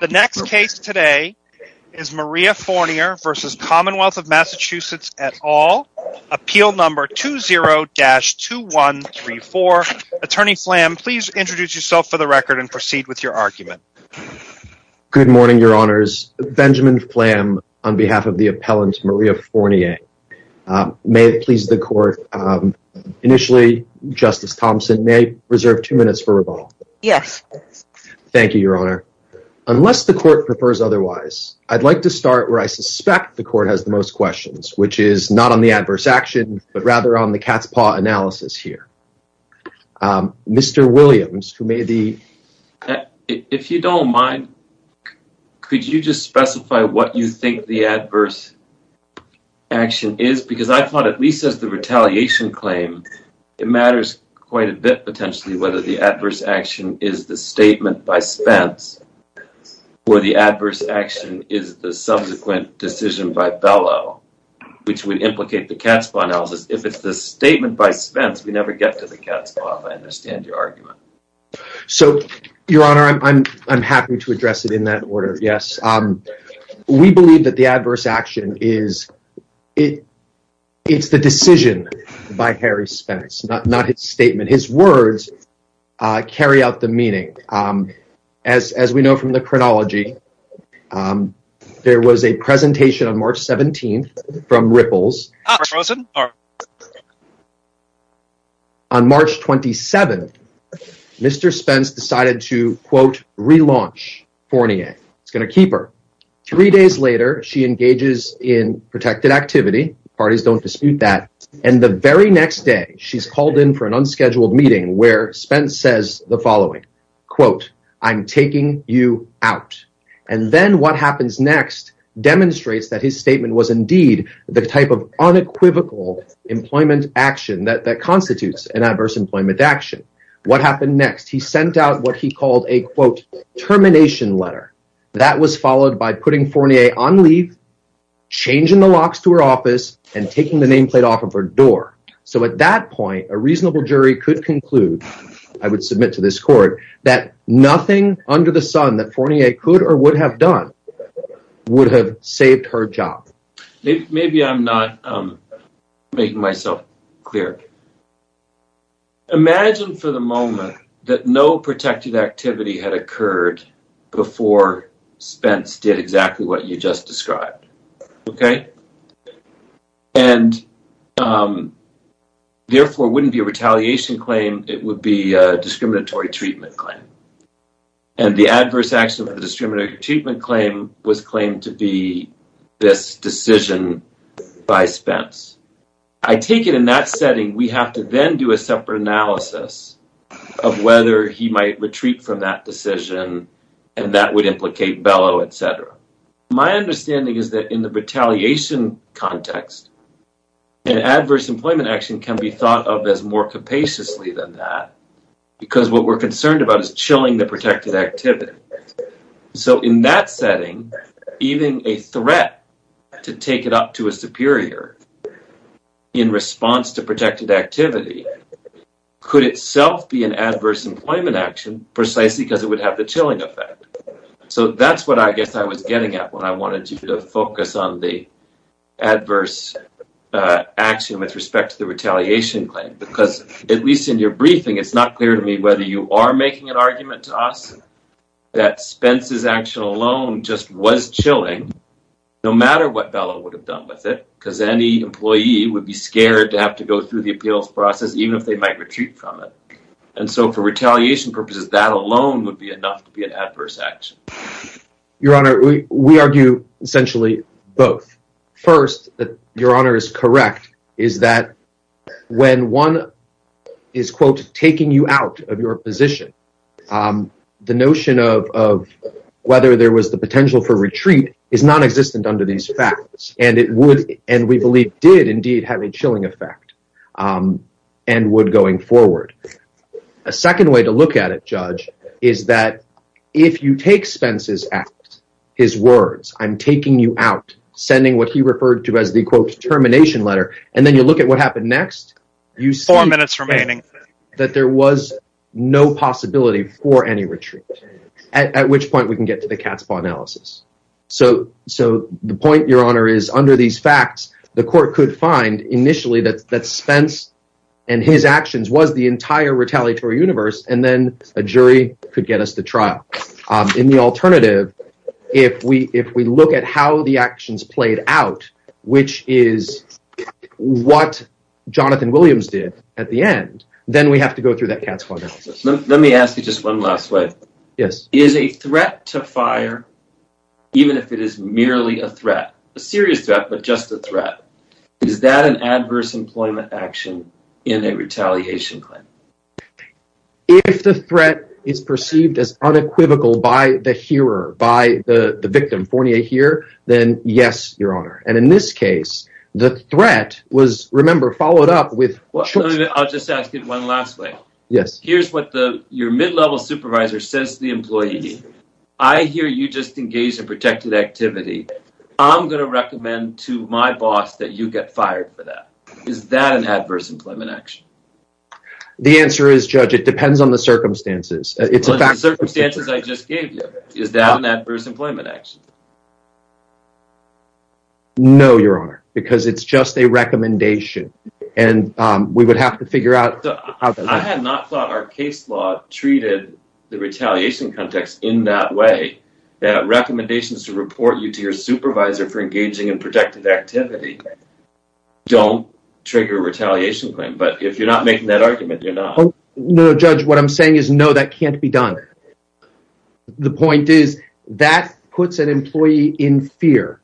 The next case today is Maria Fornier v. Commonwealth of Massachusetts et al. Appeal number 20-2134. Attorney Flam, please introduce yourself for the record and proceed with your argument. Good morning, your honors. Benjamin Flam on behalf of the appellant Maria Fornier. May it please the court, initially Justice Thompson, may I reserve two minutes for rebuttal? Yes. Thank you, your honor. Unless the court prefers otherwise, I'd like to start where I suspect the court has the most questions, which is not on the adverse action, but rather on the cat's paw analysis here. Mr. Williams, who may the... If you don't mind, could you just specify what you think the adverse action is? Because I thought at least as the retaliation claim, it matters quite a bit, potentially, whether the adverse action is the statement by Spence or the adverse action is the subsequent decision by Bellow, which would implicate the cat's paw analysis. If it's the statement by Spence, we never get to the cat's paw, if I understand your argument. So, your honor, I'm happy to address it in that order, yes. We believe that the adverse Spence, not his statement, his words carry out the meaning. As we know from the chronology, there was a presentation on March 17th from Ripples. On March 27th, Mr. Spence decided to, quote, relaunch Fornier. It's going to keep her. Three days later, she engages in protected activity. Parties don't dispute that. And the very next day, she's called in for an unscheduled meeting where Spence says the following, quote, I'm taking you out. And then what happens next demonstrates that his statement was indeed the type of unequivocal employment action that constitutes an adverse employment action. What happened next? He sent out what he called a, quote, termination letter. That was followed by putting Fornier on leave, changing the locks to her office, and taking the nameplate off of her door. So, at that point, a reasonable jury could conclude, I would submit to this court, that nothing under the sun that Fornier could or would have done would have saved her job. Maybe I'm not making myself clear. Imagine for the moment that no protected activity had occurred before Spence did exactly what you just described. Okay? And, therefore, it wouldn't be a retaliation claim. It would be a discriminatory treatment claim. And the adverse action for the discriminatory treatment claim was claimed to be this decision by Spence. I take it in that setting, we have to then do a separate analysis of whether he might retreat from that decision and that would implicate Bellow, etc. My understanding is that in the retaliation context, an adverse employment action can be thought of as more capaciously than that, because what we're concerned about is chilling the protected activity. So, in that setting, even a threat to take it up to a superior in response to protected activity could itself be an adverse employment action, precisely because it would have the chilling effect. So, that's what I guess I was getting at when I wanted you to focus on the adverse action with respect to the retaliation claim. Because, at least in your briefing, it's not clear to me whether you are making an argument to us that Spence's action alone just was chilling, no matter what Bellow would have done with it, because any employee would be scared to have to go through the appeals process, even if they might retreat from it. And so, for retaliation purposes, that alone would be enough to be an adverse action. Your Honor, we argue essentially both. First, that Your Honor is correct, is that when one is, quote, taking you out of your position, the notion of whether there was the potential for and we believe did indeed have a chilling effect and would going forward. A second way to look at it, Judge, is that if you take Spence's act, his words, I'm taking you out, sending what he referred to as the, quote, termination letter, and then you look at what happened next, you see that there was no possibility for any retreat, at which point we can get to the cat's paw analysis. So, the point, Your Honor, is under these facts, the court could find initially that Spence and his actions was the entire retaliatory universe, and then a jury could get us to trial. In the alternative, if we look at how the actions played out, which is what Jonathan Williams did at the end, then we have to go through that cat's paw analysis. Let me ask you just one last way. Yes. Is a threat to fire, even if it is merely a threat, a serious threat, but just a threat, is that an adverse employment action in a retaliation claim? If the threat is perceived as unequivocal by the hearer, by the victim, then yes, Your Honor, and in this case, the threat was, remember, followed up with… I'll just ask it one last way. Yes. Here's what your mid-level supervisor says to the employee. I hear you just engaged in protected activity. I'm going to recommend to my boss that you get fired for that. Is that an adverse employment action? The answer is, Judge, it depends on the circumstances. On the circumstances I just gave you, is that an adverse employment action? No, Your Honor, because it's just a recommendation, and we would have to figure out… I had not thought our case law treated the retaliation context in that way, that recommendations to report you to your supervisor for engaging in protected activity don't trigger a retaliation claim, but if you're not making that argument, you're not. No, Judge, what I'm saying is, no, that can't be done. The point is, that puts an employee in fear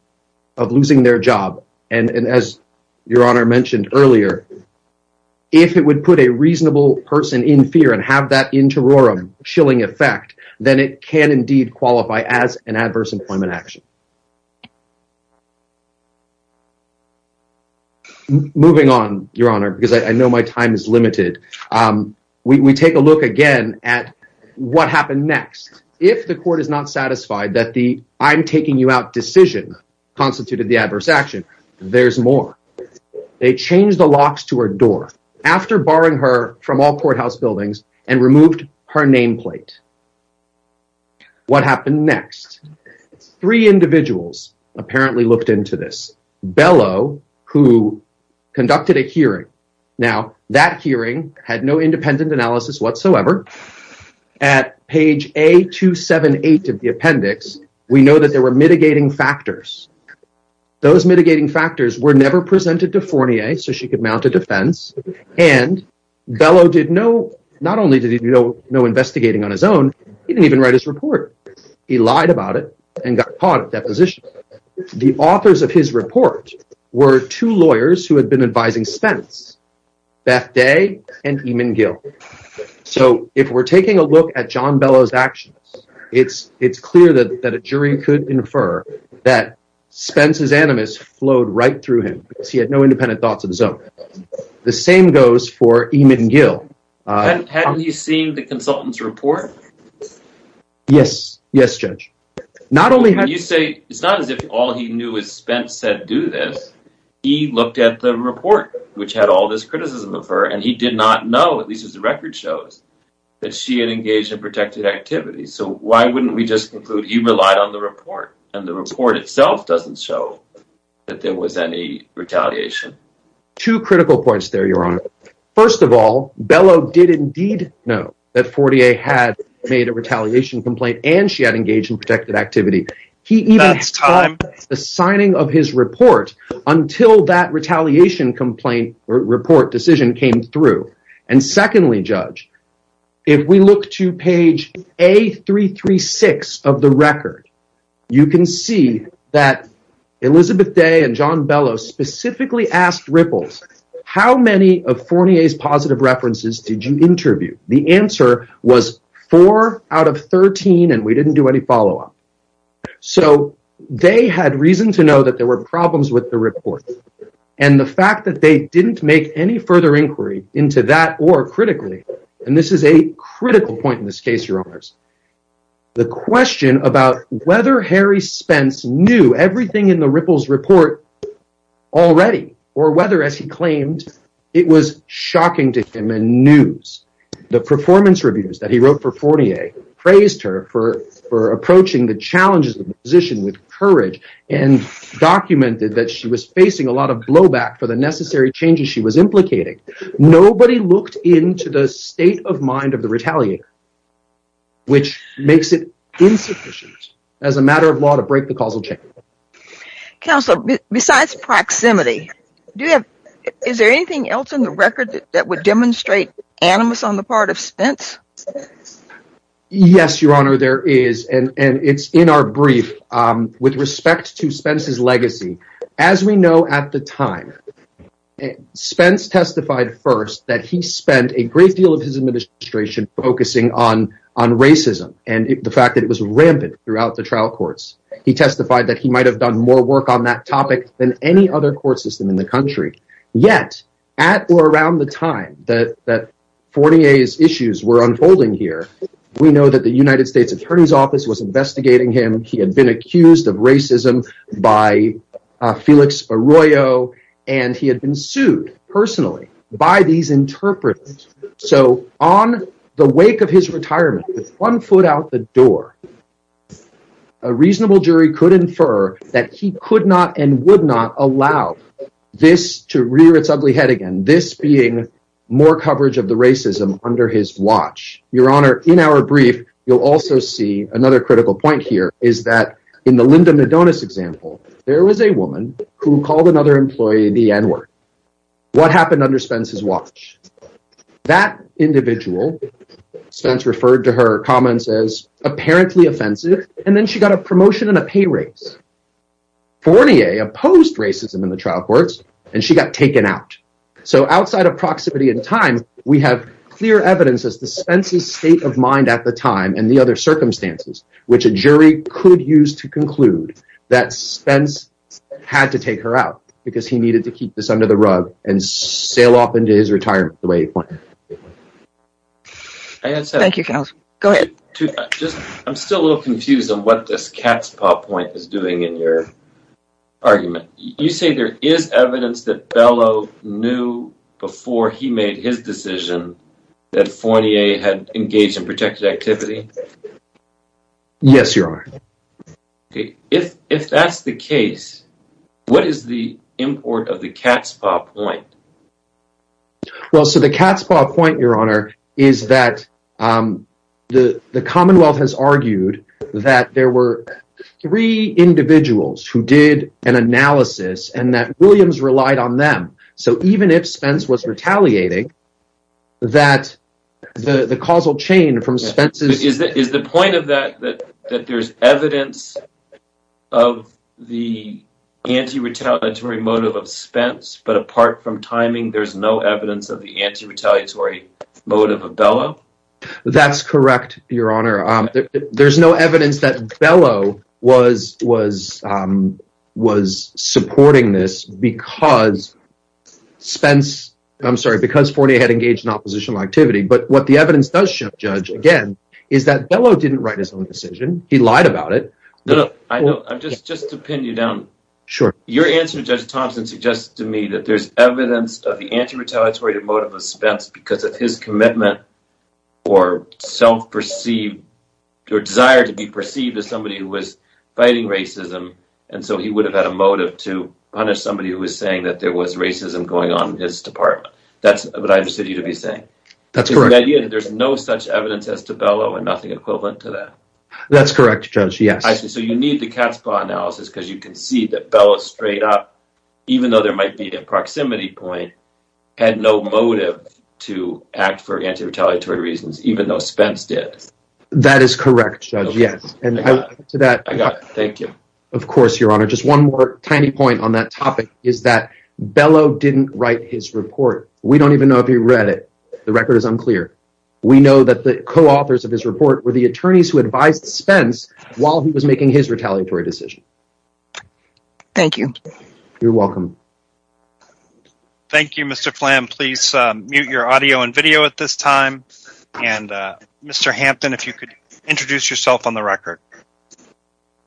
of losing their job, and as Your Honor mentioned earlier, if it would put a reasonable person in fear and have that interorum, chilling effect, then it can indeed qualify as an adverse employment action. Moving on, Your Honor, because I know my time is limited, we take a look again at what happened next. If the court is not satisfied that the I'm taking you out decision constituted the adverse action, there's more. They changed the locks to her door after barring her from all courthouse buildings and removed her nameplate. What happened next? Three individuals apparently looked into this. Bellow, who conducted a hearing. Now, that hearing had no independent analysis whatsoever. At page A278 of the appendix, we know that there were mitigating factors. Those mitigating factors were never presented to Fournier, so she could mount a defense, and Bellow not only did he do no investigating on his own, he didn't even write his report. He lied about it and got caught at that position. The authors of his report were two lawyers who had been advising Spence, Beth Day and Eamon Gill. So, if we're taking a look at John Bellow's actions, it's clear that a jury could infer that Spence's animus flowed right through him, because he had no independent thoughts of his own. The same goes for Eamon Gill. Hadn't he seen the consultant's report? Yes. Yes, Judge. It's not as if all he knew is Spence said do this. He looked at the report, which had all this criticism of her, and he did not know, at least as the record shows, that she had engaged in protected activity. So, why wouldn't we just conclude he relied on the report, and the report itself doesn't show that there was any retaliation? Two critical points there, Your Honor. First of all, Bellow did indeed know that Fournier had made a retaliation complaint and she had engaged in protected activity. He even had the signing of his report until that retaliation complaint or report decision came through. And secondly, Judge, if we look to page A336 of the record, you can see that Elizabeth Day and John Bellow specifically asked Ripples, how many of Fournier's positive references did you interview? The answer was four out of 13, and we didn't do any follow-up. So, they had reason to know that there were problems with the report, and the fact that they didn't make any further inquiry into that or, and this is a critical point in this case, Your Honors. The question about whether Harry Spence knew everything in the Ripples report already or whether, as he claimed, it was shocking to him and news. The performance reviews that he wrote for Fournier praised her for approaching the challenges of the position with courage and documented that she was facing a lot of blowback for the necessary changes she was to the state of mind of the retaliator, which makes it insufficient as a matter of law to break the causal chain. Counselor, besides proximity, do you have, is there anything else in the record that would demonstrate animus on the part of Spence? Yes, Your Honor, there is, and it's in our brief. With respect to Spence's legacy, as we know at the time, Spence testified first that he spent a great deal of his administration focusing on racism and the fact that it was rampant throughout the trial courts. He testified that he might have done more work on that topic than any other court system in the country. Yet, at or around the time that Fournier's issues were unfolding here, we know that the United States Attorney's Office was investigating him. He had been accused of racism by Felix Arroyo, and he had been sued personally by these interpreters. So, on the wake of his retirement, with one foot out the door, a reasonable jury could infer that he could not and would not allow this to rear its ugly head again, this being more coverage of the racism under his watch. Your Honor, in our brief, you'll also see another critical point here is that in the Linda Madonis example, there was a woman who called another employee the N-word. What happened under Spence's watch? That individual, Spence referred to her comments as apparently offensive, and then she got a promotion and a pay raise. Fournier opposed racism in the trial courts, and she got out. So, outside of proximity and time, we have clear evidence as to Spence's state of mind at the time and the other circumstances, which a jury could use to conclude that Spence had to take her out because he needed to keep this under the rug and sail off into his retirement the way he wanted. Thank you, counsel. Go ahead. I'm still a little confused on what this cat's paw point is in your argument. You say there is evidence that Bellow knew before he made his decision that Fournier had engaged in protected activity? Yes, Your Honor. Okay, if that's the case, what is the import of the cat's paw point? Well, so the cat's paw point, Your Honor, is that the Commonwealth has argued that there were three individuals who did an analysis, and that Williams relied on them. So, even if Spence was retaliating, that the causal chain from Spence's... Is the point of that that there's evidence of the anti-retaliatory motive of Spence, but apart from timing, there's no evidence of the That's correct, Your Honor. There's no evidence that Bellow was supporting this because Spence, I'm sorry, because Fournier had engaged in oppositional activity. But what the evidence does show, Judge, again, is that Bellow didn't write his own decision. He lied about it. Just to pin you down, your answer to Judge Thompson suggests to me that there's evidence of the anti-retaliatory motive of Spence because of his commitment or self-perceived or desire to be perceived as somebody who was fighting racism, and so he would have had a motive to punish somebody who was saying that there was racism going on in his department. That's what I understood you to be saying. That's correct. The idea that there's no such evidence as to Bellow and nothing equivalent to that. That's correct, Judge, yes. So, you need the cat's paw analysis because you can see that Bellow straight up, even though there might be a proximity point, had no motive to act for anti-retaliatory reasons, even though Spence did. That is correct, Judge, yes. And to that, of course, Your Honor, just one more tiny point on that topic is that Bellow didn't write his report. We don't even know if he read it. The record is unclear. We know that the co-authors of his report were the attorneys who advised Spence while he was making his retaliatory decision. Thank you. You're welcome. Thank you, Mr. Phlam. Please mute your audio and video at this time. And, Mr. Hampton, if you could introduce yourself on the record.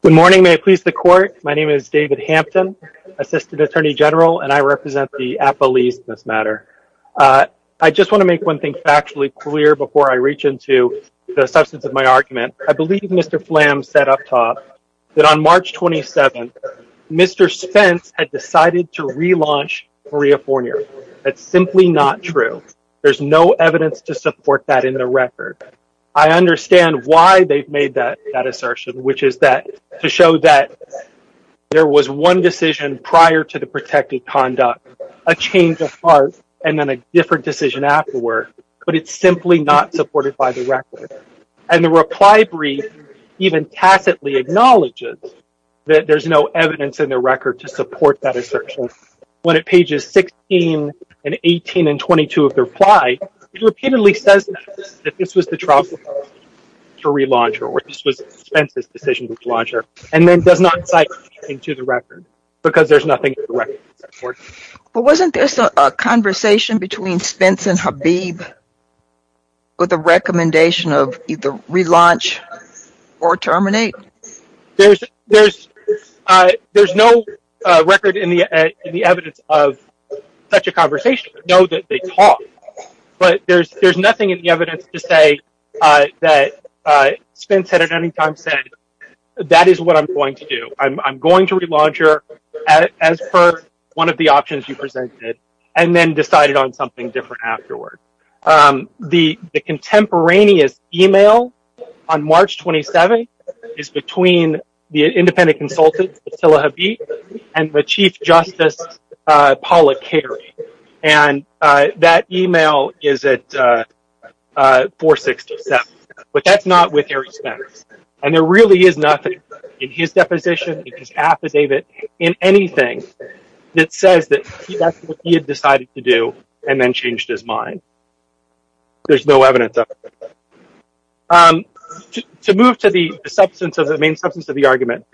Good morning. May it please the court. My name is David Hampton, Assistant Attorney General, and I represent the appellees in this matter. I just want to make one thing factually clear before I reach into the substance of my argument. I believe Mr. Phlam said up top that on March 27th, Mr. Spence had decided to relaunch Maria Fornier. That's simply not true. There's no evidence to support that in the record. I understand why they've made that assertion, which is to show that there was one decision prior to the protected conduct, a change of heart, and then a different decision afterward, but it's simply not supported by the record. And the reply brief even tacitly acknowledges that there's no evidence in the record to support that assertion. When it pages 16 and 18 and 22 of the reply, it repeatedly says that this was the trial to relaunch her, or this was Spence's decision to relaunch her, and then does not cite anything to the record because there's nothing in the record. But wasn't this a conversation between Spence and Habib with a recommendation of either relaunch or terminate? There's no record in the evidence of such a conversation to know that they talked, but there's nothing in the evidence to say that Spence had at any time said, that is what I'm going to do. I'm going to relaunch her as per one of the options you have. The contemporaneous email on March 27 is between the independent consultant and the chief justice. And that email is at 467, but that's not with Harry Spence. And there really is nothing in his deposition, in his affidavit, in anything that says that that's what he had decided to do and then changed his mind. There's no evidence of it. To move to the substance of the main substance of the argument,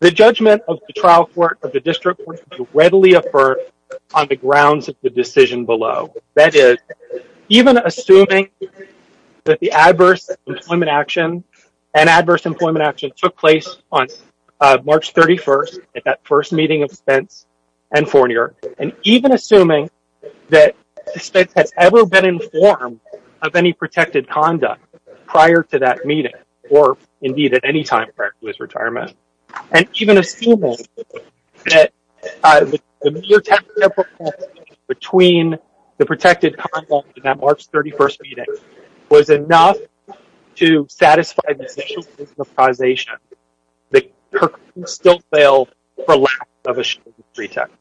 the judgment of the trial court, of the district court, readily affirmed on the grounds of the decision below. That is, even assuming that the adverse employment action and adverse employment action took place on at that first meeting of Spence and Fournier, and even assuming that Spence has ever been informed of any protected conduct prior to that meeting, or indeed at any time prior to his retirement, and even assuming that the mere temporary between the protected conduct in that March 31st meeting was enough to satisfy the initial position of causation, the courtroom still failed for lack of a show pretext.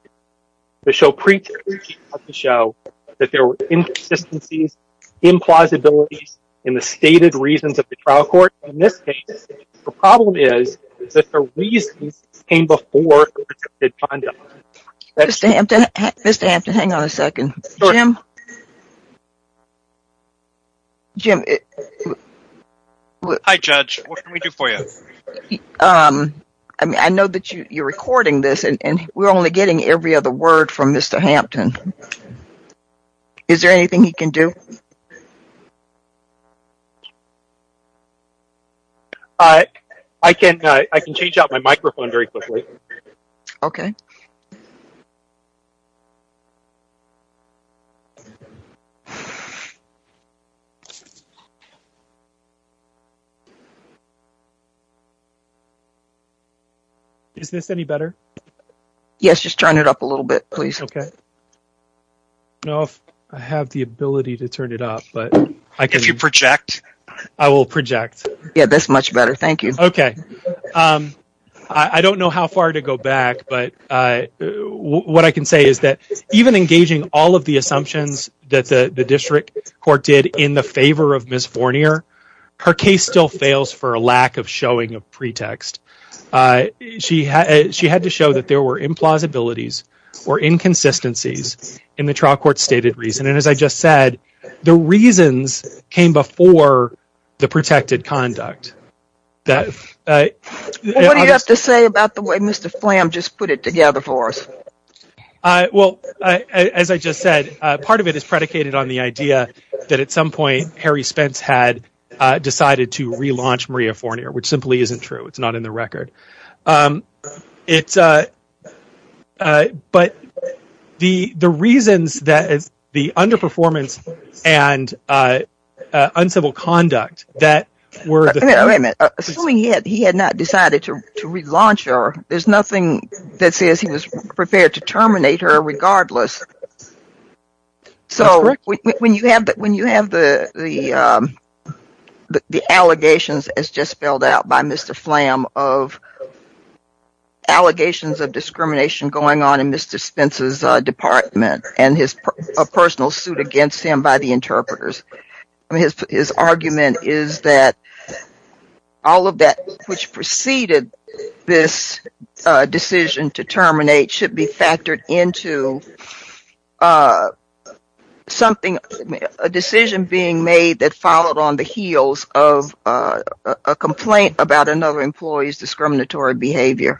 The show pretext was to show that there were inconsistencies, implausibilities in the stated reasons of the trial court. In this case, the problem is that the reasons came before the protected conduct. Mr. Hampton, hang on a second. Jim? Jim? Hi, Judge. What can we do for you? I mean, I know that you're recording this, and we're only getting every other word from Mr. Hampton. Is there anything he can do? I can change out my microphone very quickly. Okay. Is this any better? Yes, just turn it up a little bit, please. Okay. No, I have the ability to turn it up, but... If you project. I will project. Yeah, that's much better. Thank you. Okay. I don't know how far to go back, but what I can say is that even engaging all of the assumptions that the district court did in the favor of Ms. Fournier, her case still fails for a lack of showing of pretext. She had to show that there were implausibilities or inconsistencies in the trial court stated reason. And as I just said, the reasons came before the protected conduct. What do you have to say about the way Mr. Flam just put it together for us? Well, as I just said, part of it is predicated on the idea that at some point, Harry Spence had decided to relaunch Maria Fournier, which simply isn't true. It's not in the record. But the reasons that the underperformance and uncivil conduct that were... Wait a minute. Assuming he had not decided to relaunch her, there's nothing that says he was prepared to terminate her regardless. That's correct. When you have the allegations, as just spelled out by Mr. Flam, of allegations of discrimination going on in Mr. Spence's department and his personal suit against him by the interpreters, his argument is that all of that which preceded this decision to terminate should be factored into a decision being made that followed on the heels of a complaint about another employee's discriminatory behavior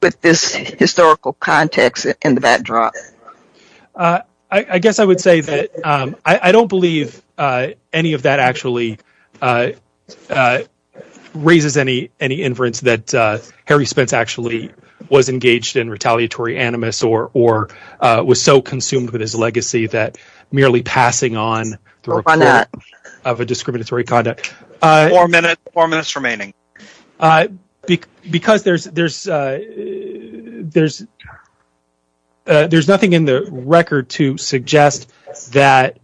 with this historical context in the backdrop. I guess I would say that I don't believe any of that actually raises any inference that Harry Spence actually was engaged in retaliatory animus or was so consumed with his legacy that merely passing on the report of a discriminatory conduct... Four minutes remaining. ...because there's nothing in the record to suggest that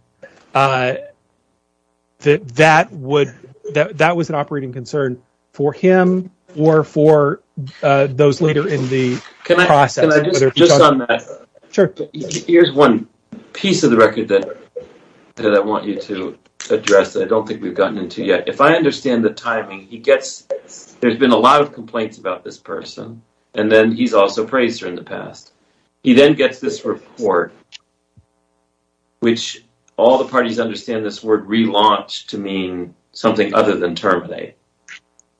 that was an operating concern for him or for those later in the process. Here's one piece of the record that I want you to address that I don't think we've gotten into yet. If I understand the timing, there's been a lot of complaints about this person, and then he's also praised her in the past. He then gets this report, which all the parties understand this word relaunch to mean something other than terminate,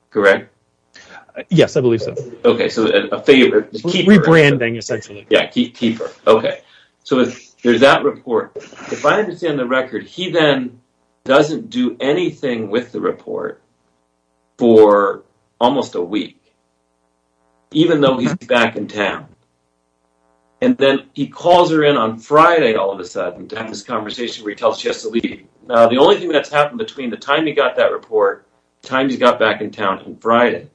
correct? Yes, I believe so. Okay, so a favor. Rebranding, essentially. Yeah, keeper. Okay, so there's that report. If I understand the record, he then doesn't do anything with the report for almost a week, even though he's back in town. And then he calls her in on Friday all of a sudden to have this conversation where he tells she has to leave. Now, the only thing that's happened between the time he got that report, time he got back in town on Friday,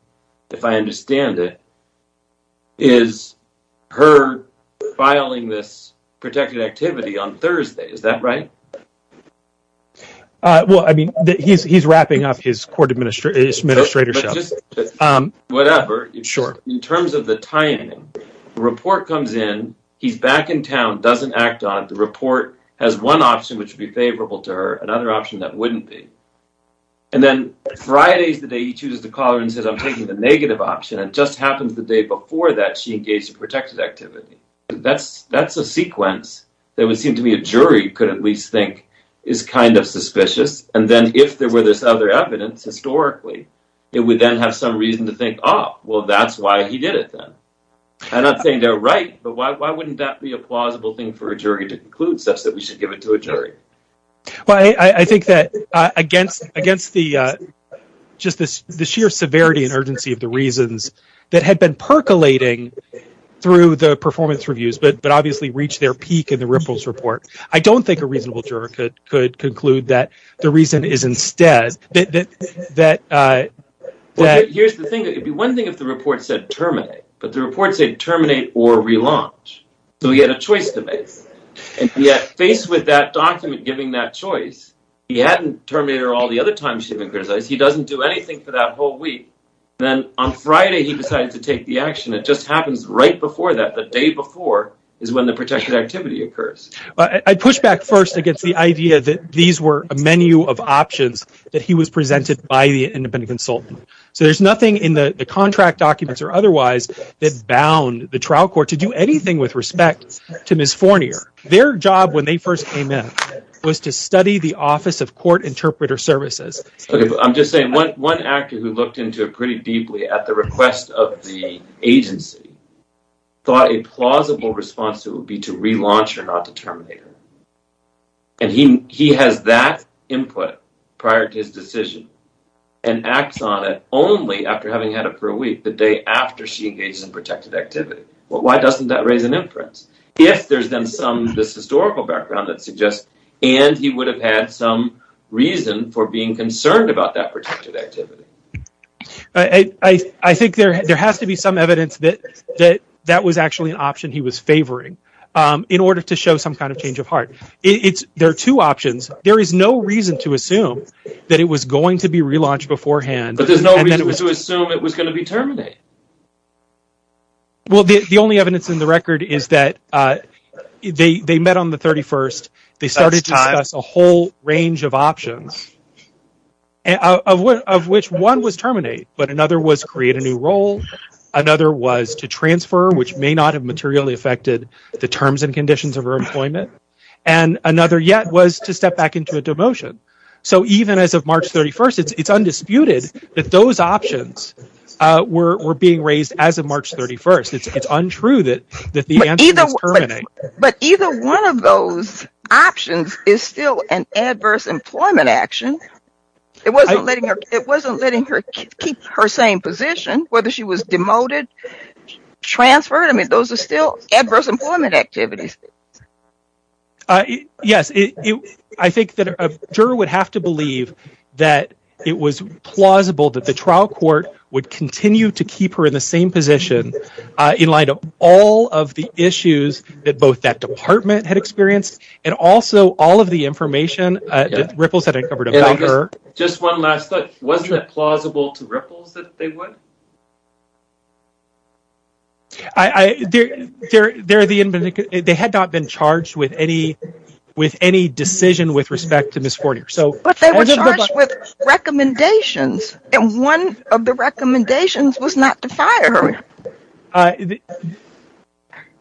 if I understand it, is her filing this protected activity on Thursday. Is that right? Well, I mean, he's wrapping up his court administratorship. Whatever. Sure. In terms of the timing, the report comes in, he's back in town, doesn't act on it. The report has one option which would be favorable to her, another option that wouldn't be. And then Friday's the day he chooses to call her and says, I'm taking the negative option. It just happened the day before that she engaged in protected activity. That's a sequence that would seem to me a jury could at least think is kind of suspicious. And then if there were this other evidence, historically, it would then have some reason to think, oh, well, that's why he did it then. I'm not saying they're right, but why wouldn't that be a plausible thing for a jury to conclude such that we should give it to a jury? Well, I think that against the just the sheer severity and urgency of the reasons that had been percolating through the performance reviews, but obviously reached their peak in the Ripple's report, I don't think a reasonable juror could conclude that the reason is instead that. Here's the thing. It'd be one thing if the report said terminate, but the report said terminate or relaunch. So we had a choice to make. And yet, faced with that document giving that choice, he hadn't terminated all the other times she'd been criticized. He doesn't do anything for that whole week. And then on Friday, he decided to take the action. It just happens right before that. The day before is when the protected activity occurs. But I push back first against the idea that these were a menu of options that he was presented by the independent consultant. So there's nothing in the contract documents or otherwise that bound the trial court to do anything with respect to Ms. Fournier. Their job when they first came in was to study the Office of Court Interpreter Services. I'm just saying one actor who looked into it pretty deeply at the request of the agency thought a plausible response would be to relaunch or not to terminate her. And he has that input prior to his decision and acts on it only after having had it for a week, the day after she engages in protected activity. Well, why doesn't that raise an inference? If there's then some historical background that suggests, and he would have had some reason for being concerned about that protected activity. I think there has to be some evidence that that was actually an option he was favoring in order to show some kind of change of heart. There are two options. There is no reason to But there's no reason to assume it was going to be terminated. Well, the only evidence in the record is that they met on the 31st. They started to discuss a whole range of options of which one was terminate, but another was create a new role. Another was to transfer, which may not have materially affected the terms and conditions of her employment. And another yet was to step back into a demotion. So even as of March 31st, it's undisputed that those options were being raised as of March 31st. It's untrue that the answer was terminate. But either one of those options is still an adverse employment action. It wasn't letting her keep her same position, whether she was demoted, transferred. I mean, those are still adverse employment activities. Yes, I think that a juror would have to believe that it was plausible that the trial court would continue to keep her in the same position in light of all of the issues that both that department had experienced and also all of the information that Ripples had uncovered about her. Just one last thought. Wasn't it plausible to Ripples that they would? They had not been charged with any decision with respect to Ms. Fortier. But they were charged with recommendations, and one of the recommendations was not to fire her.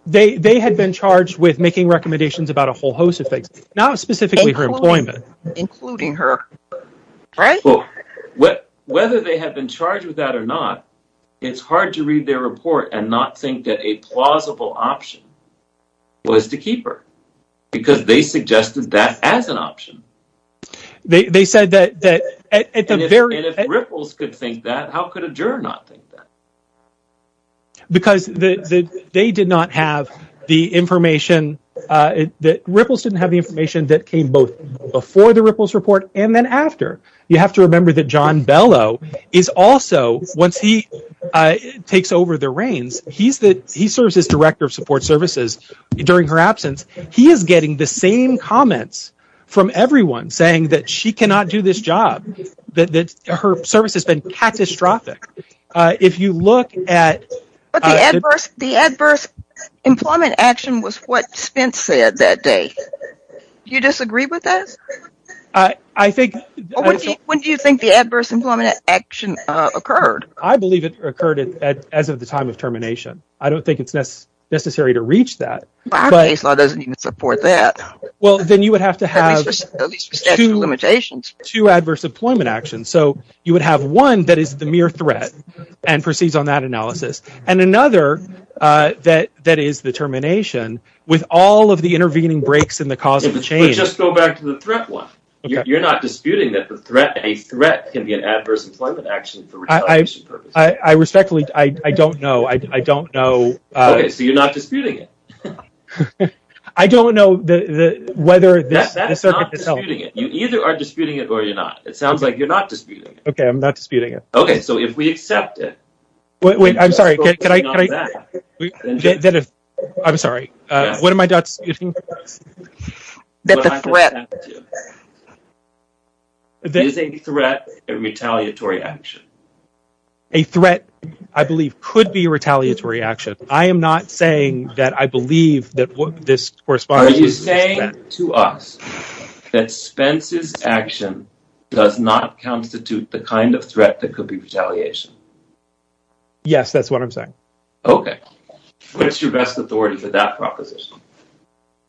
They had been charged with making recommendations about a whole host of things, not specifically her employment. Including her, right? Well, whether they had been charged with that or not, it's hard to read their report and not think that a plausible option was to keep her because they suggested that as an option. They said that at the very... And if Ripples could think that, how could a juror not think that? Because they did not have the information, Ripples didn't have the information that came both before the Ripples report and then after. You have to remember that John Bellow is also... Once he takes over the reins, he serves as director of support services during her absence. He is getting the same comments from everyone saying that she cannot do this job, that her service has been catastrophic. If you look at... The adverse employment action was what Spence said that day. Do you disagree with this? I think... When do you think the adverse employment action occurred? I believe it occurred as of the time of termination. I don't think it's necessary to reach that. Our case law doesn't even support that. Well, then you would have to have two adverse employment actions. So you would have one that is the mere threat and proceeds on that analysis. And another that is the termination with all of the intervening breaks in the causal chain. Let's just go back to the threat one. You're not disputing that a threat can be an adverse employment action for retaliation purposes. I respectfully... I don't know. So you're not disputing it? I don't know whether this... That's not disputing it. You either are disputing it or you're not. It sounds like you're not disputing it. Okay, I'm not disputing it. Okay, so if we accept it... Wait, I'm sorry. I'm sorry. What am I disputing? That the threat... Is a threat a retaliatory action? A threat, I believe, could be a retaliatory action. I am not saying that I believe that this corresponds... Are you saying to us that Spence's action does not constitute the kind of threat that could be retaliation? Yes, that's what I'm saying. Okay. What's your best authority for that proposition?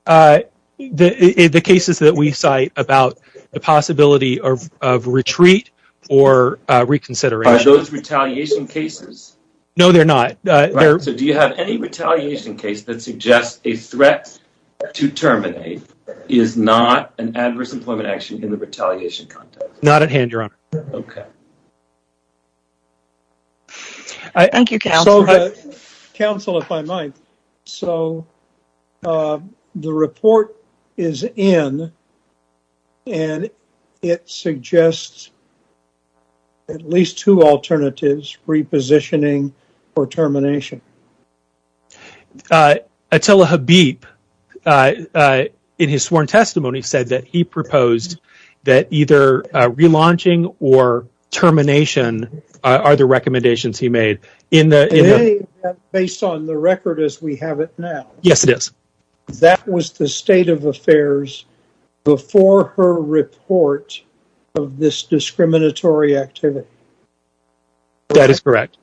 The cases that we cite about the possibility of retreat or reconsideration. Are those retaliation cases? No, they're not. So do you have any retaliation case that suggests a threat to terminate is not an adverse employment action in the retaliation context? Not at hand, Your Honor. Okay. Thank you, counsel. Counsel, if I might. So the report is in, and it suggests at least two alternatives, repositioning or termination. Attila Habib, in his sworn testimony, said that he proposed that either relaunching or termination are the recommendations he made. Based on the record as we have it now. Yes, it is. That was the state of affairs before her report of this discriminatory activity. That is correct.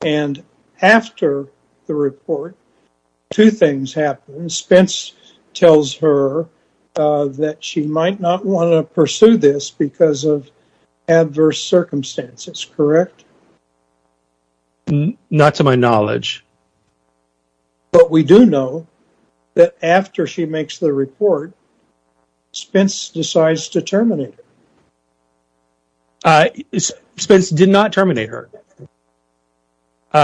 And after the report, two things happen. Spence tells her that she might not want to pursue this because of adverse circumstances, correct? Not to my knowledge. But we do know that after she makes the report, Spence decides to terminate it. Spence did not terminate her.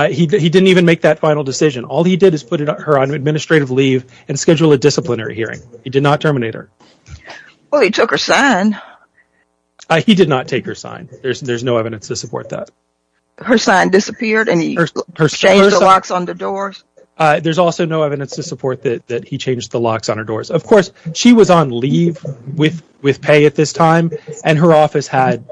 He didn't even make that final decision. All he did is put her on administrative leave and schedule a disciplinary hearing. He did not terminate her. Well, he took her sign. He did not take her sign. There's no evidence to support that. Her sign disappeared and he changed the locks on the doors. There's also no evidence to support that he changed the locks on her doors. Of course, she was on leave with pay at this time, and her office had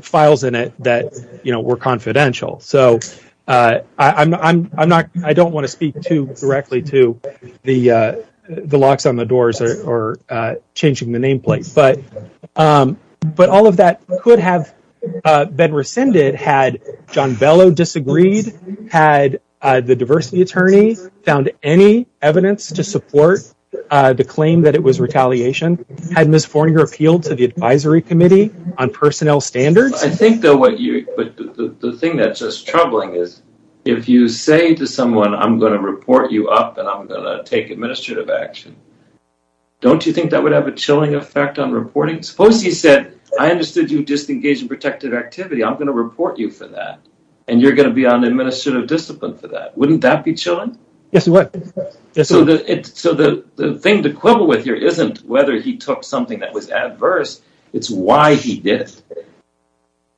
files in it that were confidential. So I don't want to speak too directly to the locks on the doors or changing the nameplate. But all of that could have been rescinded had John Bellow disagreed, had the diversity attorney found any evidence to support the claim that it was retaliation, had Ms. Forninger appealed to the advisory committee on personnel standards. I think, though, the thing that's just troubling is if you say to someone, I'm going to report you up and I'm going to take administrative action, don't you think that would have a chilling effect on reporting? Suppose he said, I understood you disengaged in protected activity. I'm going to report you for that. And you're going to be on administrative discipline for that. Wouldn't that be chilling? Yes, it would. So the thing to quibble with here isn't whether he took something that was adverse. It's why he did it.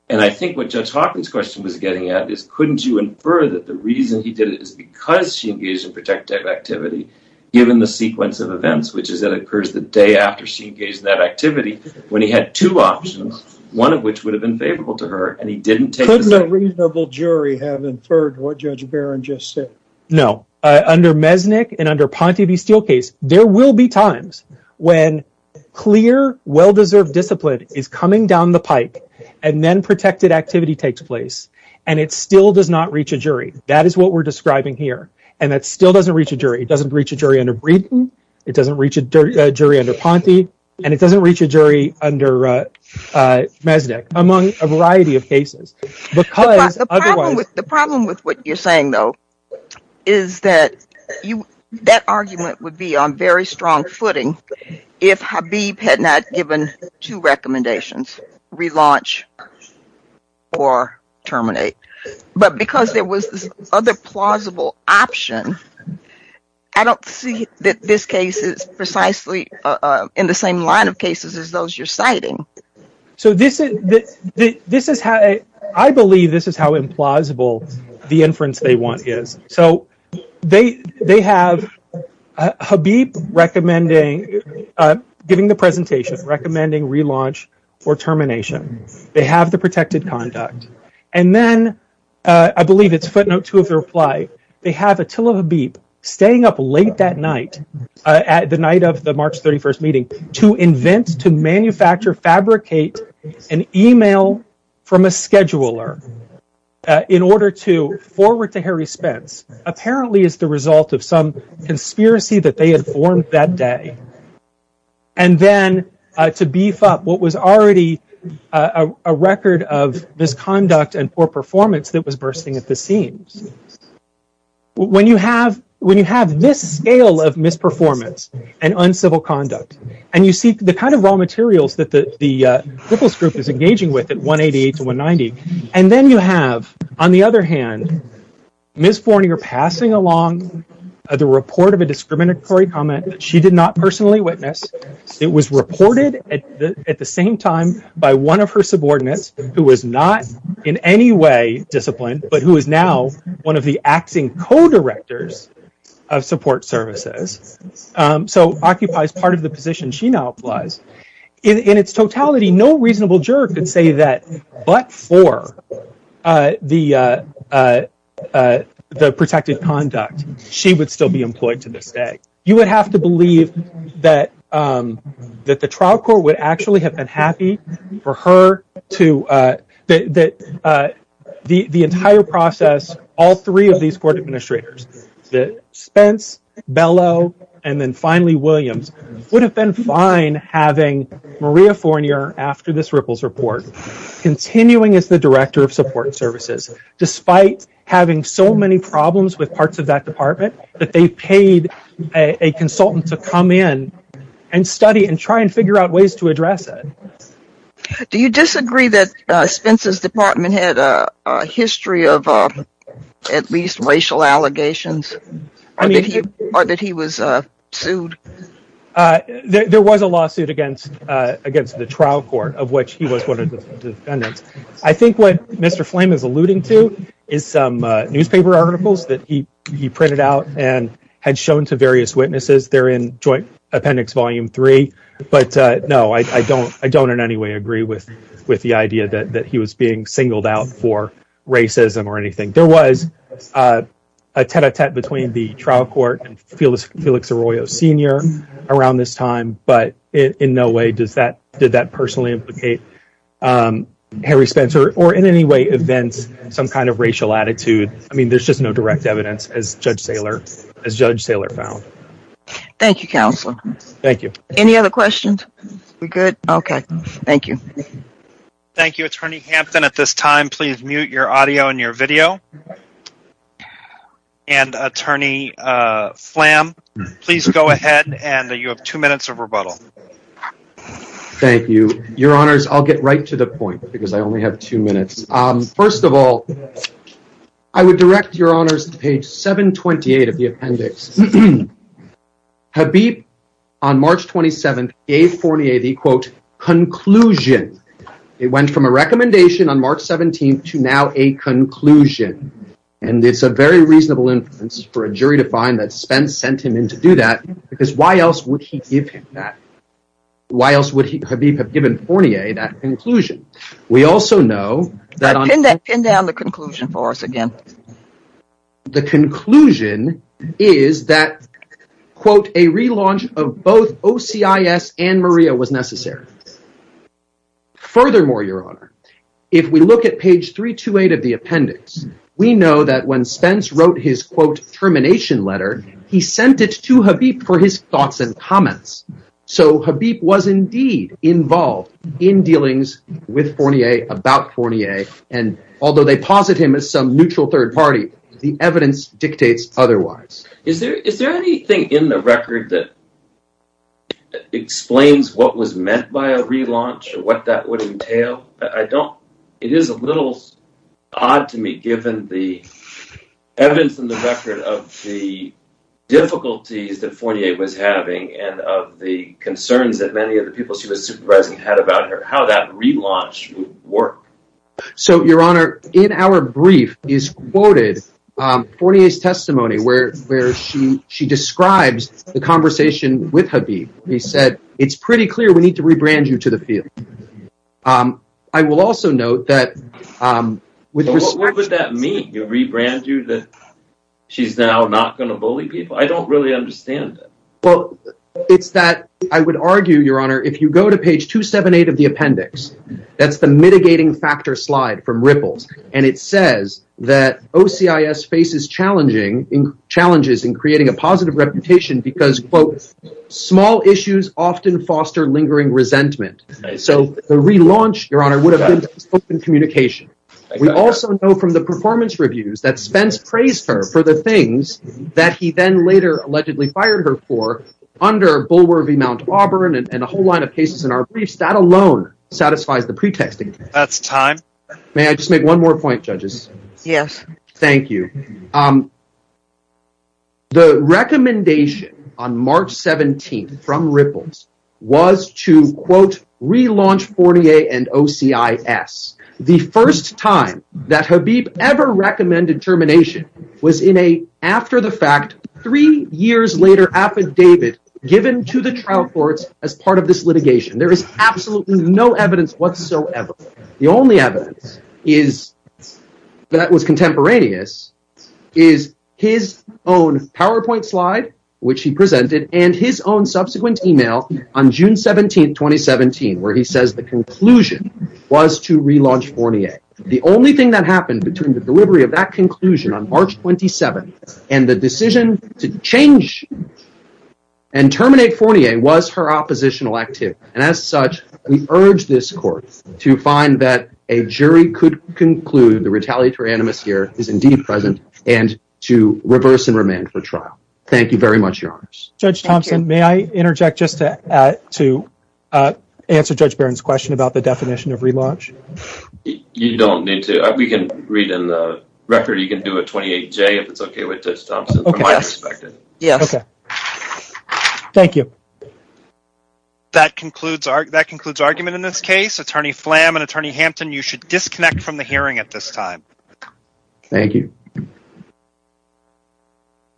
And I think what Judge Hawkins' question was getting at is, couldn't you infer that the reason he did it is because she engaged in protective activity, given the sequence of events, which is that it occurs the day after she engaged in that activity when he had two options, one of which would have been favorable to her and he didn't take it. Couldn't a reasonable jury have inferred what Judge Barron just said? No. Under Mesnick and under Ponte V. Steelcase, there will be times when clear, well-deserved discipline is coming down the pike, and then protected activity takes place, and it still does not reach a jury. That is what we're describing here. And that still doesn't reach a jury. It doesn't reach a jury under Breeden. It doesn't reach a jury under Ponte. And it doesn't reach a jury under Mesnick, among a variety of cases. The problem with what you're saying, though, is that that argument would be on very strong footing if Habib had not given two recommendations, relaunch or terminate. But because there was this other plausible option, I don't see that this case is precisely in the same line of cases as those you're citing. So this is how, I believe this is how implausible the inference they want is. They have Habib giving the presentation, recommending relaunch or termination. They have the protected conduct. And then, I believe it's footnote two of the reply, they have Attila Habib staying up late that night, at the night of the March 31st meeting, to invent, to manufacture, fabricate an email from a scheduler in order to forward to Harry Spence, apparently as the result of some conspiracy that they had formed that day. And then, to beef up what was already a record of misconduct and poor performance that was bursting at the seams. When you have this scale of misperformance and uncivil conduct, and you see the kind of raw materials that the Ripples group is engaging with at 188 to 190. And then you have, on the other hand, Ms. Fornier passing along the report of a discriminatory comment that she did not personally witness. It was reported at the same time by one of her subordinates, who was not in any way disciplined, but who is now one of the acting co-directors of support services. So, occupies part of the position she now applies. In its totality, no reasonable juror could say that, but for the protected conduct, she would still be employed to this day. You would have to believe that the trial court would actually have been happy for her to, the entire process, all three of these court administrators, that Spence, Bellow, and then finally Williams, would have been fine having Maria Fornier, after this Ripples report, continuing as the director of support services, despite having so many problems with parts of that department, that they paid a consultant to come in and study and try and figure out ways to address it. Do you disagree that Spence's department had a history of at least racial allegations, or that he was sued? There was a lawsuit against the trial court of which he was one of the defendants. I think what Mr. Flame is alluding to is some newspaper articles that he printed out and had shown to various witnesses. They're in Joint Appendix Volume 3. But no, I don't in any way agree with the idea that he was being singled out for racism or anything. There was a tête-à-tête between the trial court and Felix Arroyo Sr. around this time, but in no way did that personally implicate Harry Spencer, or in any way events some kind of racial attitude. I mean, there's just no direct evidence, as Judge Saylor found. Thank you, Counselor. Thank you. Any other questions? We're good? Okay, thank you. Thank you, Attorney Hampton. At this time, please mute your audio and your video. And Attorney Flame, please go ahead. And you have two minutes of rebuttal. Thank you, Your Honors. I'll get right to the point because I only have two minutes. First of all, I would direct Your Honors to page 728 of the appendix. Habib, on March 27th, gave Fournier the, quote, conclusion. It went from a recommendation on March 17th to now a conclusion. And it's a very reasonable inference for a jury to find that Spence sent him in to do that, because why else would he give him that? Why else would Habib have given Fournier that conclusion? We also know that... Pin down the conclusion for us again. But the conclusion is that, quote, a relaunch of both OCIS and Maria was necessary. Furthermore, Your Honor, if we look at page 328 of the appendix, we know that when Spence wrote his, quote, termination letter, he sent it to Habib for his thoughts and comments. So Habib was indeed involved in dealings with Fournier about Fournier. And although they posit him as some neutral third party, the evidence dictates otherwise. Is there anything in the record that explains what was meant by a relaunch or what that would entail? It is a little odd to me, given the evidence in the record of the difficulties that Fournier was having and of the concerns that many of the people she was supervising had about her, how that relaunch would work. So, Your Honor, in our brief is quoted Fournier's testimony where she describes the conversation with Habib. He said, it's pretty clear we need to rebrand you to the field. I will also note that... What would that mean? You rebrand you that she's now not going to bully people? I don't really understand that. Well, it's that I would argue, Your Honor, if you go to page 278 of the appendix, that's the mitigating factor slide from Ripple's. And it says that OCIS faces challenges in creating a positive reputation because, quote, small issues often foster lingering resentment. So the relaunch, Your Honor, would have been open communication. We also know from the performance reviews that Spence praised her for the things that he then later allegedly fired her for under Bulwer v. Mount Auburn and a whole line of cases in our briefs. That alone satisfies the pretexting. That's time. May I just make one more point, judges? Yes. Thank you. The recommendation on March 17th from Ripple's was to, quote, relaunch Fournier and OCIS. The first time that Habib ever recommended termination was in a, after the fact, three years later affidavit given to the trial courts as part of this litigation. There is absolutely no evidence whatsoever. The only evidence that was contemporaneous is his own PowerPoint slide, which he presented, and his own subsequent email on June 17th, 2017, where he says the conclusion was to relaunch Fournier. The only thing that happened between the delivery of that conclusion on March 27th and the decision to change and terminate Fournier was her oppositional activity. And as such, we urge this court to find that a jury could conclude the retaliatory animus here is indeed present and to reverse and remand for trial. Thank you very much, Your Honors. Judge Thompson, may I interject just to answer Judge Barron's question about the definition of relaunch? You don't need to. We can read in the record. You can do a 28-J if it's okay with Judge Thompson, from my perspective. Yes. Thank you. That concludes argument in this case. Attorney Flam and Attorney Hampton, you should disconnect from the hearing at this time. Thank you.